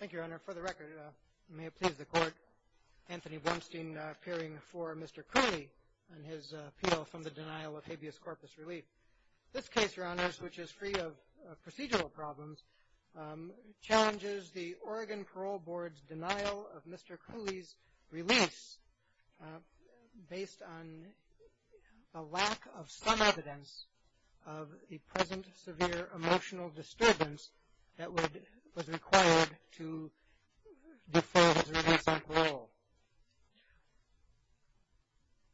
Thank you, Your Honor. For the record, may it please the Court, Anthony Blumstein appearing for Mr. Cooley on his appeal from the denial of habeas corpus relief. This case, Your Honor, which is free of procedural problems, challenges the Oregon Parole Board's denial of Mr. Cooley's release based on a lack of some evidence of a present severe emotional disturbance that was required to defer his release on parole.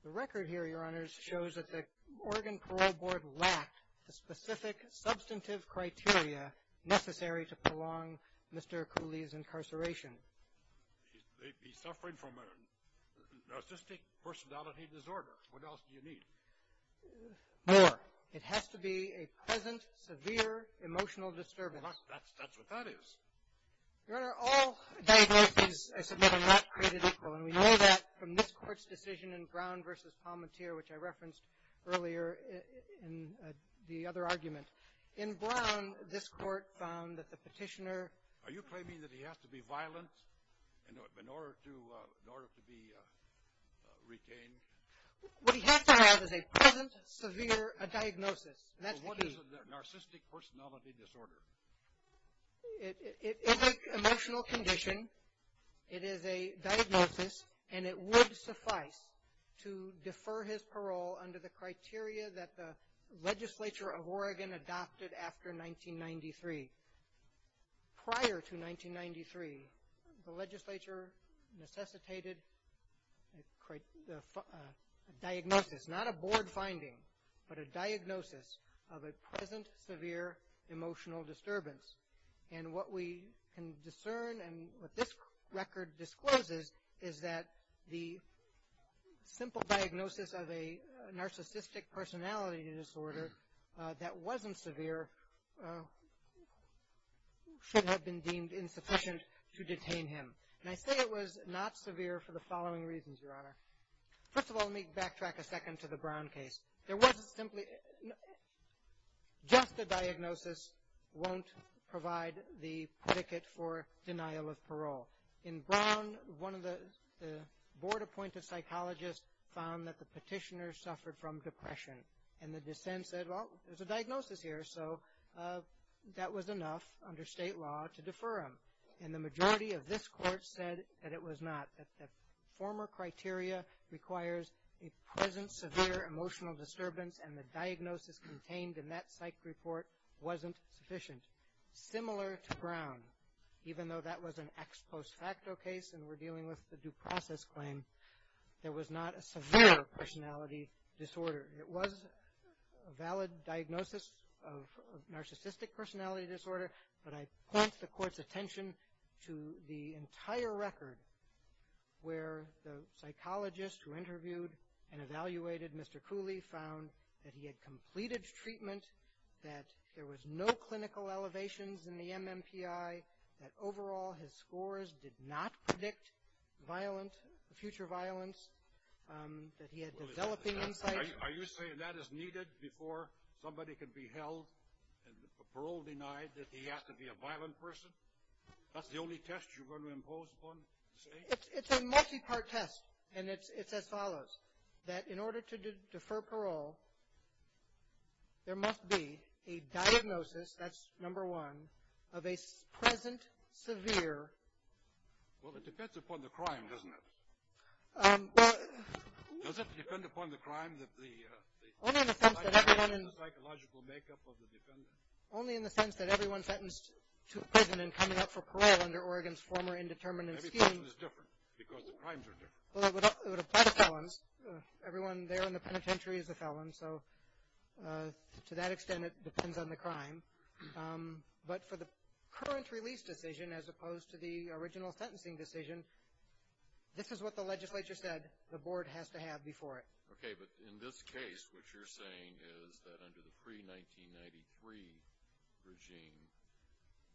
The record here, Your Honor, shows that the Oregon Parole Board lacked the specific substantive criteria necessary to prolong Mr. Cooley's incarceration. He's suffering from a narcissistic personality disorder. What else do you need? More. It has to be a present severe emotional disturbance. That's what that is. Your Honor, all diagnoses, I submit, are not created equal, and we know that from this Court's decision in Brown v. Palmentier, which I referenced earlier in the other argument. In Brown, this Court found that the petitioner Are you claiming that he has to be violent in order to be retained? What he has to have is a present severe diagnosis. That's the key. What is a narcissistic personality disorder? It is an emotional condition. It is a diagnosis, and it would suffice to defer his parole under the criteria that the legislature of Oregon adopted after 1993. Prior to 1993, the legislature necessitated a diagnosis, not a board finding, but a diagnosis of a present severe emotional disturbance, and what we can discern and what this record discloses is that the simple diagnosis of a narcissistic personality disorder that wasn't severe should have been deemed insufficient to detain him, and I say it was not severe for the following reasons, Your Honor. First of all, let me backtrack a second to the Brown case. There wasn't simply, just a diagnosis won't provide the predicate for denial of parole. In Brown, one of the board-appointed psychologists found that the petitioner suffered from depression, and the dissent said, well, there's a diagnosis here, so that was enough under state law to defer him, and the majority of this Court said that it was not, that the former criteria requires a present severe emotional disturbance, and the diagnosis contained in that psych report wasn't sufficient. Similar to Brown, even though that was an ex post facto case and we're dealing with the due process claim, there was not a severe personality disorder. It was a valid diagnosis of narcissistic personality disorder, but I point the Court's attention to the entire record where the psychologist who interviewed and evaluated Mr. Cooley found that he had completed treatment, that there was no clinical elevations in the MMPI, that overall his scores did not predict violent, future violence, that he had developing insight. Are you saying that is needed before somebody can be held and the parole denied that he has to be a violent person? That's the only test you're going to impose upon the state? It's a multi-part test, and it's as follows. That in order to defer parole, there must be a diagnosis, that's number one, of a present severe... Well, it depends upon the crime, doesn't it? Well... Does it depend upon the crime that the... Only in the sense that everyone in... The psychological makeup of the defendant. Only in the sense that everyone sentenced to prison and coming up for parole under Oregon's former indeterminate scheme... Every person is different, because the crimes are different. Well, it would apply to felons. Everyone there in the penitentiary is a felon, so to that extent, it depends on the crime. But for the current release decision, as opposed to the original sentencing decision, this is what the legislature said the board has to have before it. Okay, but in this case, what you're saying is that under the pre-1993 regime,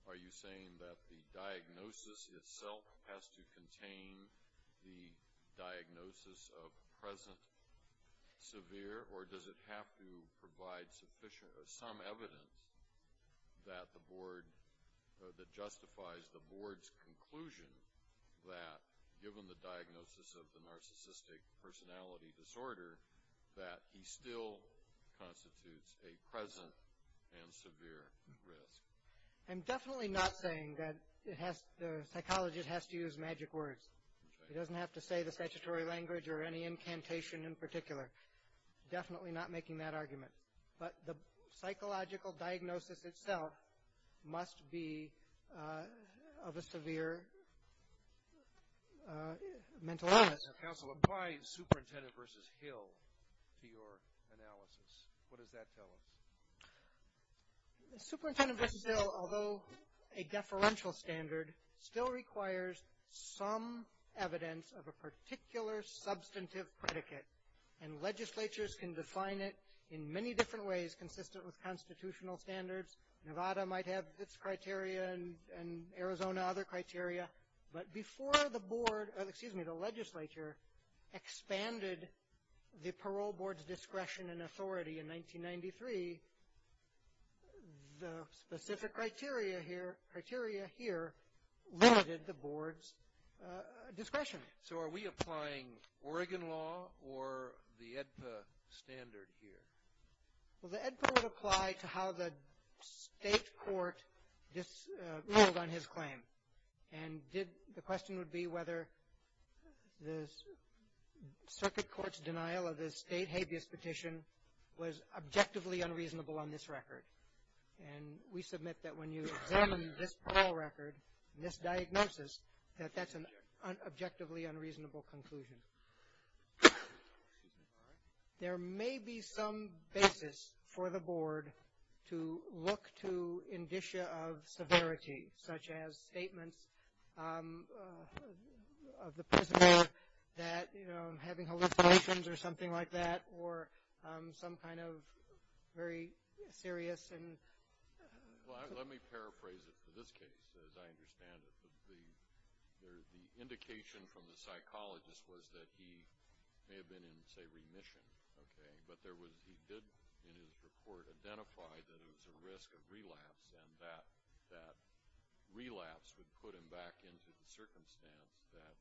are you saying that the diagnosis itself has to contain the diagnosis of present severe, or does it have to provide some evidence that justifies the board's conclusion that given the diagnosis of the narcissistic personality disorder, that he still constitutes a present and severe risk? I'm definitely not saying that the psychologist has to use magic words. He doesn't have to say the statutory language or any incantation in particular. Definitely not making that point. Counsel, apply Superintendent v. Hill to your analysis. What does that tell us? Superintendent v. Hill, although a deferential standard, still requires some evidence of a particular substantive predicate. And legislatures can define it in many different ways, consistent with constitutional standards. Nevada might have its criteria, and Arizona, other criteria. But before the board, excuse me, the legislature expanded the parole board's discretion and authority in 1993, the specific criteria here limited the board's discretion. So are we applying Oregon law or the AEDPA standard here? Well, the AEDPA would apply to how the state court ruled on his claim. And the question would be whether the circuit court's denial of the state habeas petition was objectively unreasonable on this record. And we submit that when you examine this parole record, this diagnosis, that that's an objectively unreasonable conclusion. There may be some basis for the board to look to indicia of severity, such as statements of the prisoner that, you know, having hallucinations or something like that, or some kind of very serious and... Well, let me paraphrase it for this case, as I understand it. The indication from the board is that he may have been in, say, remission, okay? But he did, in his report, identify that it was a risk of relapse, and that relapse would put him back into the circumstance that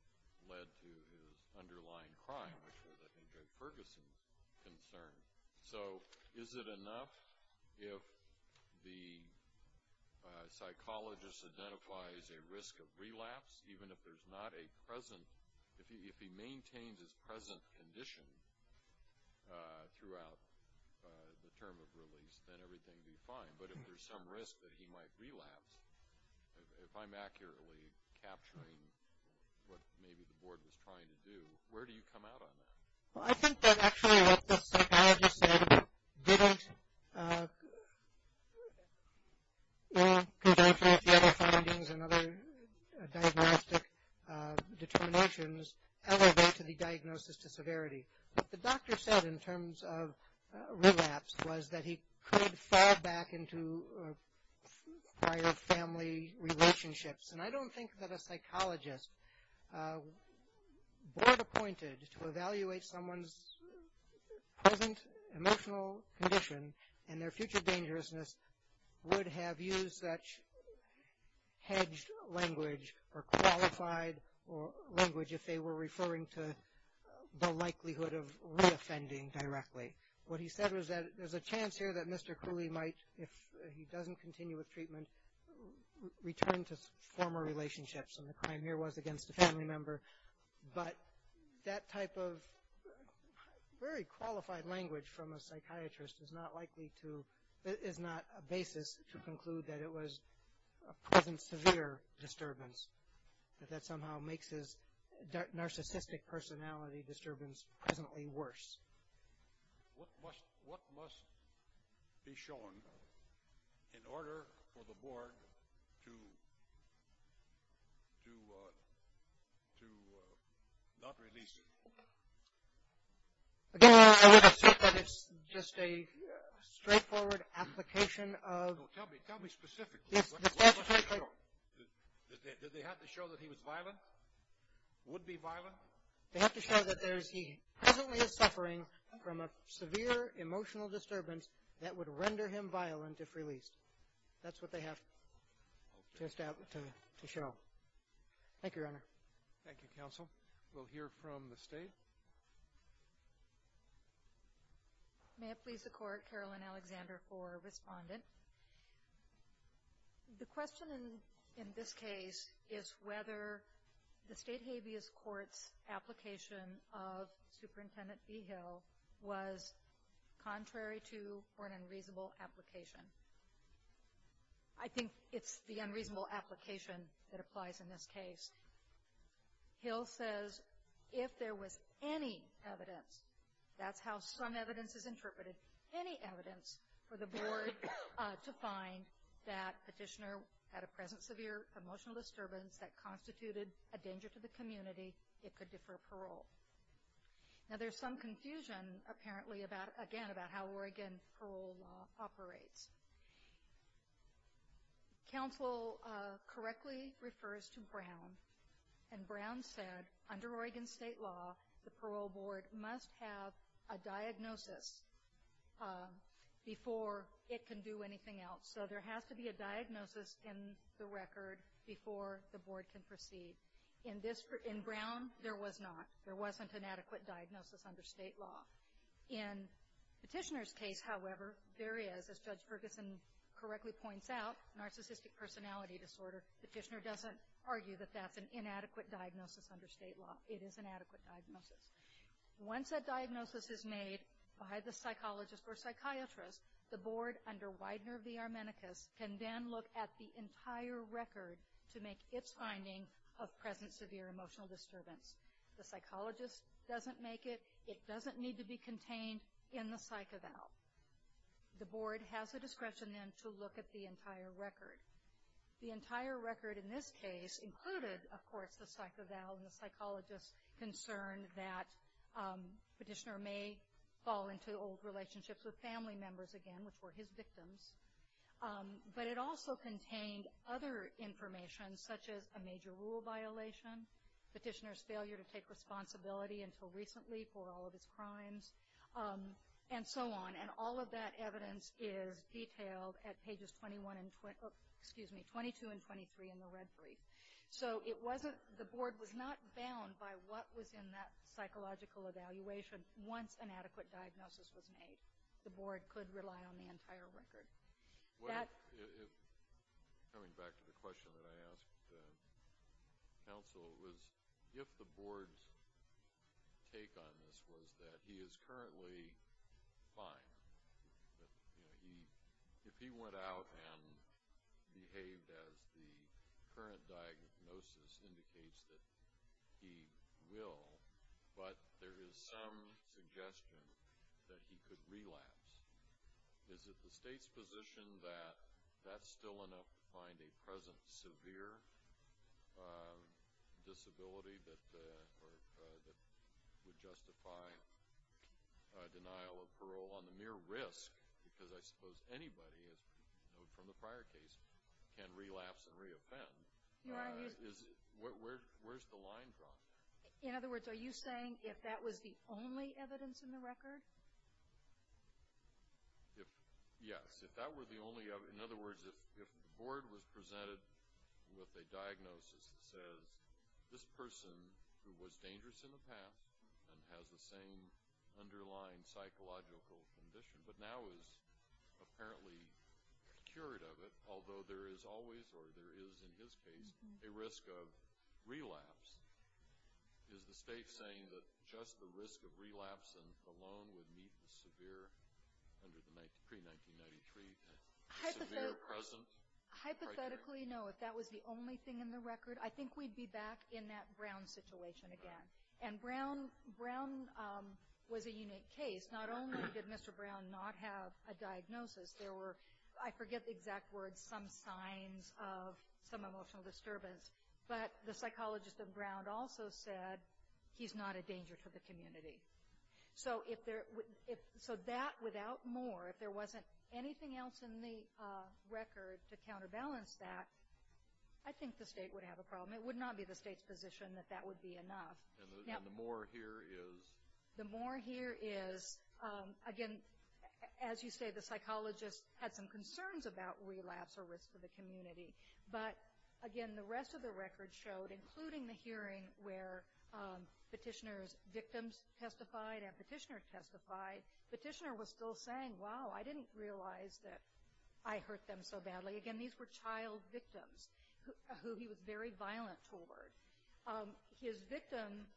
led to his underlying crime, which was, I think, a Ferguson concern. So is it enough if the psychologist identifies a risk of relapse, even if there's not a relapse, that if he maintains his present condition throughout the term of release, then everything would be fine? But if there's some risk that he might relapse, if I'm accurately capturing what maybe the board was trying to do, where do you come out on that? Well, I think that actually what the psychologist said didn't, in conjunction with the other findings and other diagnostic determinations, elevate to the diagnosis to severity. What the doctor said in terms of relapse was that he could fall back into prior family relationships. And I don't think that a psychologist board-appointed to evaluate someone's present emotional condition and their future dangerousness would have used that hedged language or qualified language if they were referring to the likelihood of reoffending directly. What he said was that there's a chance here that Mr. Cooley might, if he doesn't continue with treatment, return to former relationships. And the crime here was against a family member. But that type of very qualified language from a psychiatrist is not likely to, is not a basis to conclude that it was a present severe disturbance, that that somehow makes his narcissistic personality disturbance presently worse. What must, what must be shown in order for the board to, to, to not release him? Again, I would assert that it's just a straightforward application of No, tell me, tell me specifically. Yes, the fact that Did they have to show that he was violent? Would be violent? They have to show that there's, he presently is suffering from a severe emotional disturbance that would render him violent if released. That's what they have to establish, to show. Thank you, Your Honor. Thank you, Counsel. We'll hear from the State. May it please the Court, Carolyn Alexander for Respondent. The question in, in this case is whether the State Habeas Court's application of Superintendent B. Hill was contrary to or an unreasonable application. I think it's the unreasonable application that applies in this case. Hill says if there was any evidence, that's how some evidence is interpreted, any evidence for the board to find that Petitioner had a present severe emotional disturbance that constituted a danger to the community, it could defer parole. Now there's some confusion, apparently, about, again, about how Oregon parole law operates. Counsel correctly refers to Brown, and Brown said under Oregon State law the parole board must have a diagnosis before it can do anything else. So there has to be a diagnosis in the record before the board can proceed. In this, in Brown, there was not. There wasn't an adequate diagnosis under State law. In Petitioner's case, however, there is, as Judge Ferguson correctly points out, narcissistic personality disorder. Petitioner doesn't argue that that's an inadequate diagnosis under State law. It is an adequate diagnosis. Once that diagnosis is made by the psychologist or psychiatrist, the board under Widener v. Armenicus can then look at the entire record to make its finding of present severe emotional disturbance. The psychologist doesn't make it. It doesn't need to be contained in the psych eval. The board has the discretion then to look at the entire record. The entire record in this case included, of course, the psych eval and the psychologist's concern that Petitioner may fall into old relationships with family members again, which were his victims. But it also contained other information, such as a major rule violation, Petitioner's failure to take responsibility until recently for all of his crimes, and so on. And all of that evidence is detailed at pages 22 and 23 in the red brief. So the board was not bound by what was in that psychological evaluation once an adequate diagnosis was made. The board could rely on the entire record. Coming back to the question that I asked counsel, if the board's take on this was that he is currently fine, if he went out and behaved as the current diagnosis indicates that he will, but there is some suggestion that he could relapse, is it the state's position that that's still enough to find a present severe disability that would justify denial of parole on the mere risk? Because I suppose anybody, as we know from the prior case, can relapse and re-offend. Where's the line drawn? In other words, are you saying if that was the only evidence in the record? Yes, if that were the only evidence. In other words, if the board was presented with a diagnosis that says this person who was dangerous in the past and has the same underlying psychological condition but now is apparently cured of it, although there is always, or there is in his case, a risk of relapse, is the state saying that just the risk of relapse and the loan would meet the severe, under the pre-1993, severe present criteria? Technically, no. If that was the only thing in the record, I think we'd be back in that Brown situation again. And Brown was a unique case. Not only did Mr. Brown not have a diagnosis, there were, I forget the exact words, some signs of some emotional disturbance, but the psychologist of Brown also said, he's not a danger to the community. So that without more, if there wasn't anything else in the record to counterbalance that, I think the state would have a problem. It would not be the state's position that that would be enough. And the more here is? The more here is, again, as you say, the psychologist had some concerns about relapse or risk to the community. But again, the rest of the record showed, including the hearing where petitioner's victims testified and petitioner testified, petitioner was still saying, wow, I didn't realize that I hurt them so badly. Again, these were child victims, who he was very violent toward. His victim,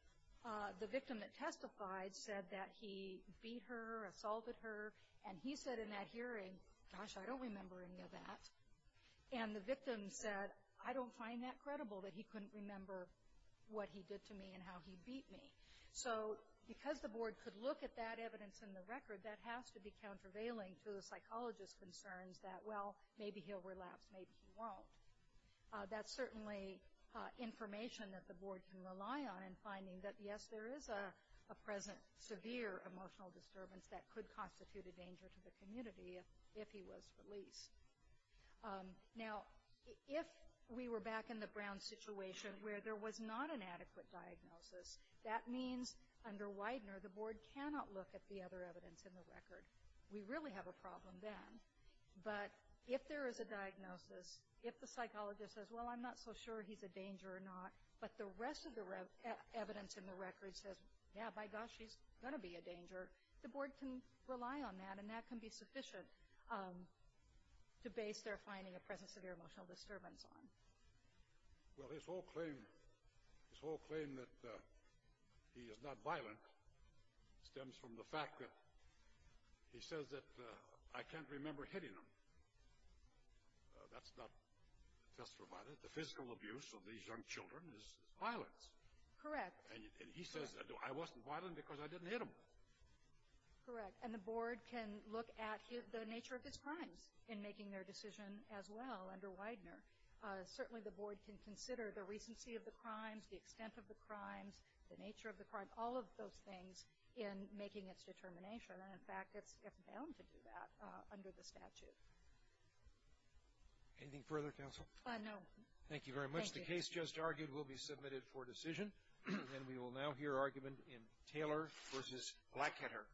the victim that testified, said that he beat her, assaulted her. And he said in that hearing, gosh, I don't remember any of that. And the victim said, I don't find that credible that he couldn't remember what he did to me and how he beat me. So, because the board could look at that evidence in the record, that has to be countervailing to the psychologist's concerns that, well, maybe he'll relapse, maybe he won't. That's certainly information that the board can rely on in finding that, yes, there is a present, severe emotional disturbance that could constitute a danger to the community if he was released. Now, if we were back in the Brown situation where there was not an adequate diagnosis, that means, under Widener, the board cannot look at the other evidence in the record. We really have a problem then. But if there is a diagnosis, if the psychologist says, well, I'm not so sure he's a danger or not, but the rest of the evidence in the record says, yeah, by gosh, he's gonna be a danger, the board can rely on that, and that can be sufficient to base their finding of present, severe emotional disturbance on. Well, his whole claim, his whole claim that he is not violent stems from the fact that he says that, I can't remember hitting him. That's not testifying. The physical abuse of these young children is violence. Correct. And he says, I wasn't violent because I didn't hit him. Correct. And the board can look at the nature of his crimes in making their decision as well under Widener. Certainly the board can consider the recency of the crimes, the extent of the crimes, the nature of the crimes, all of those things in making its determination. And in fact, it's bound to do that under the statute. Anything further, counsel? No. Thank you very much. The case just argued will be submitted for decision. And we will now hear argument in Taylor v. Blackheader.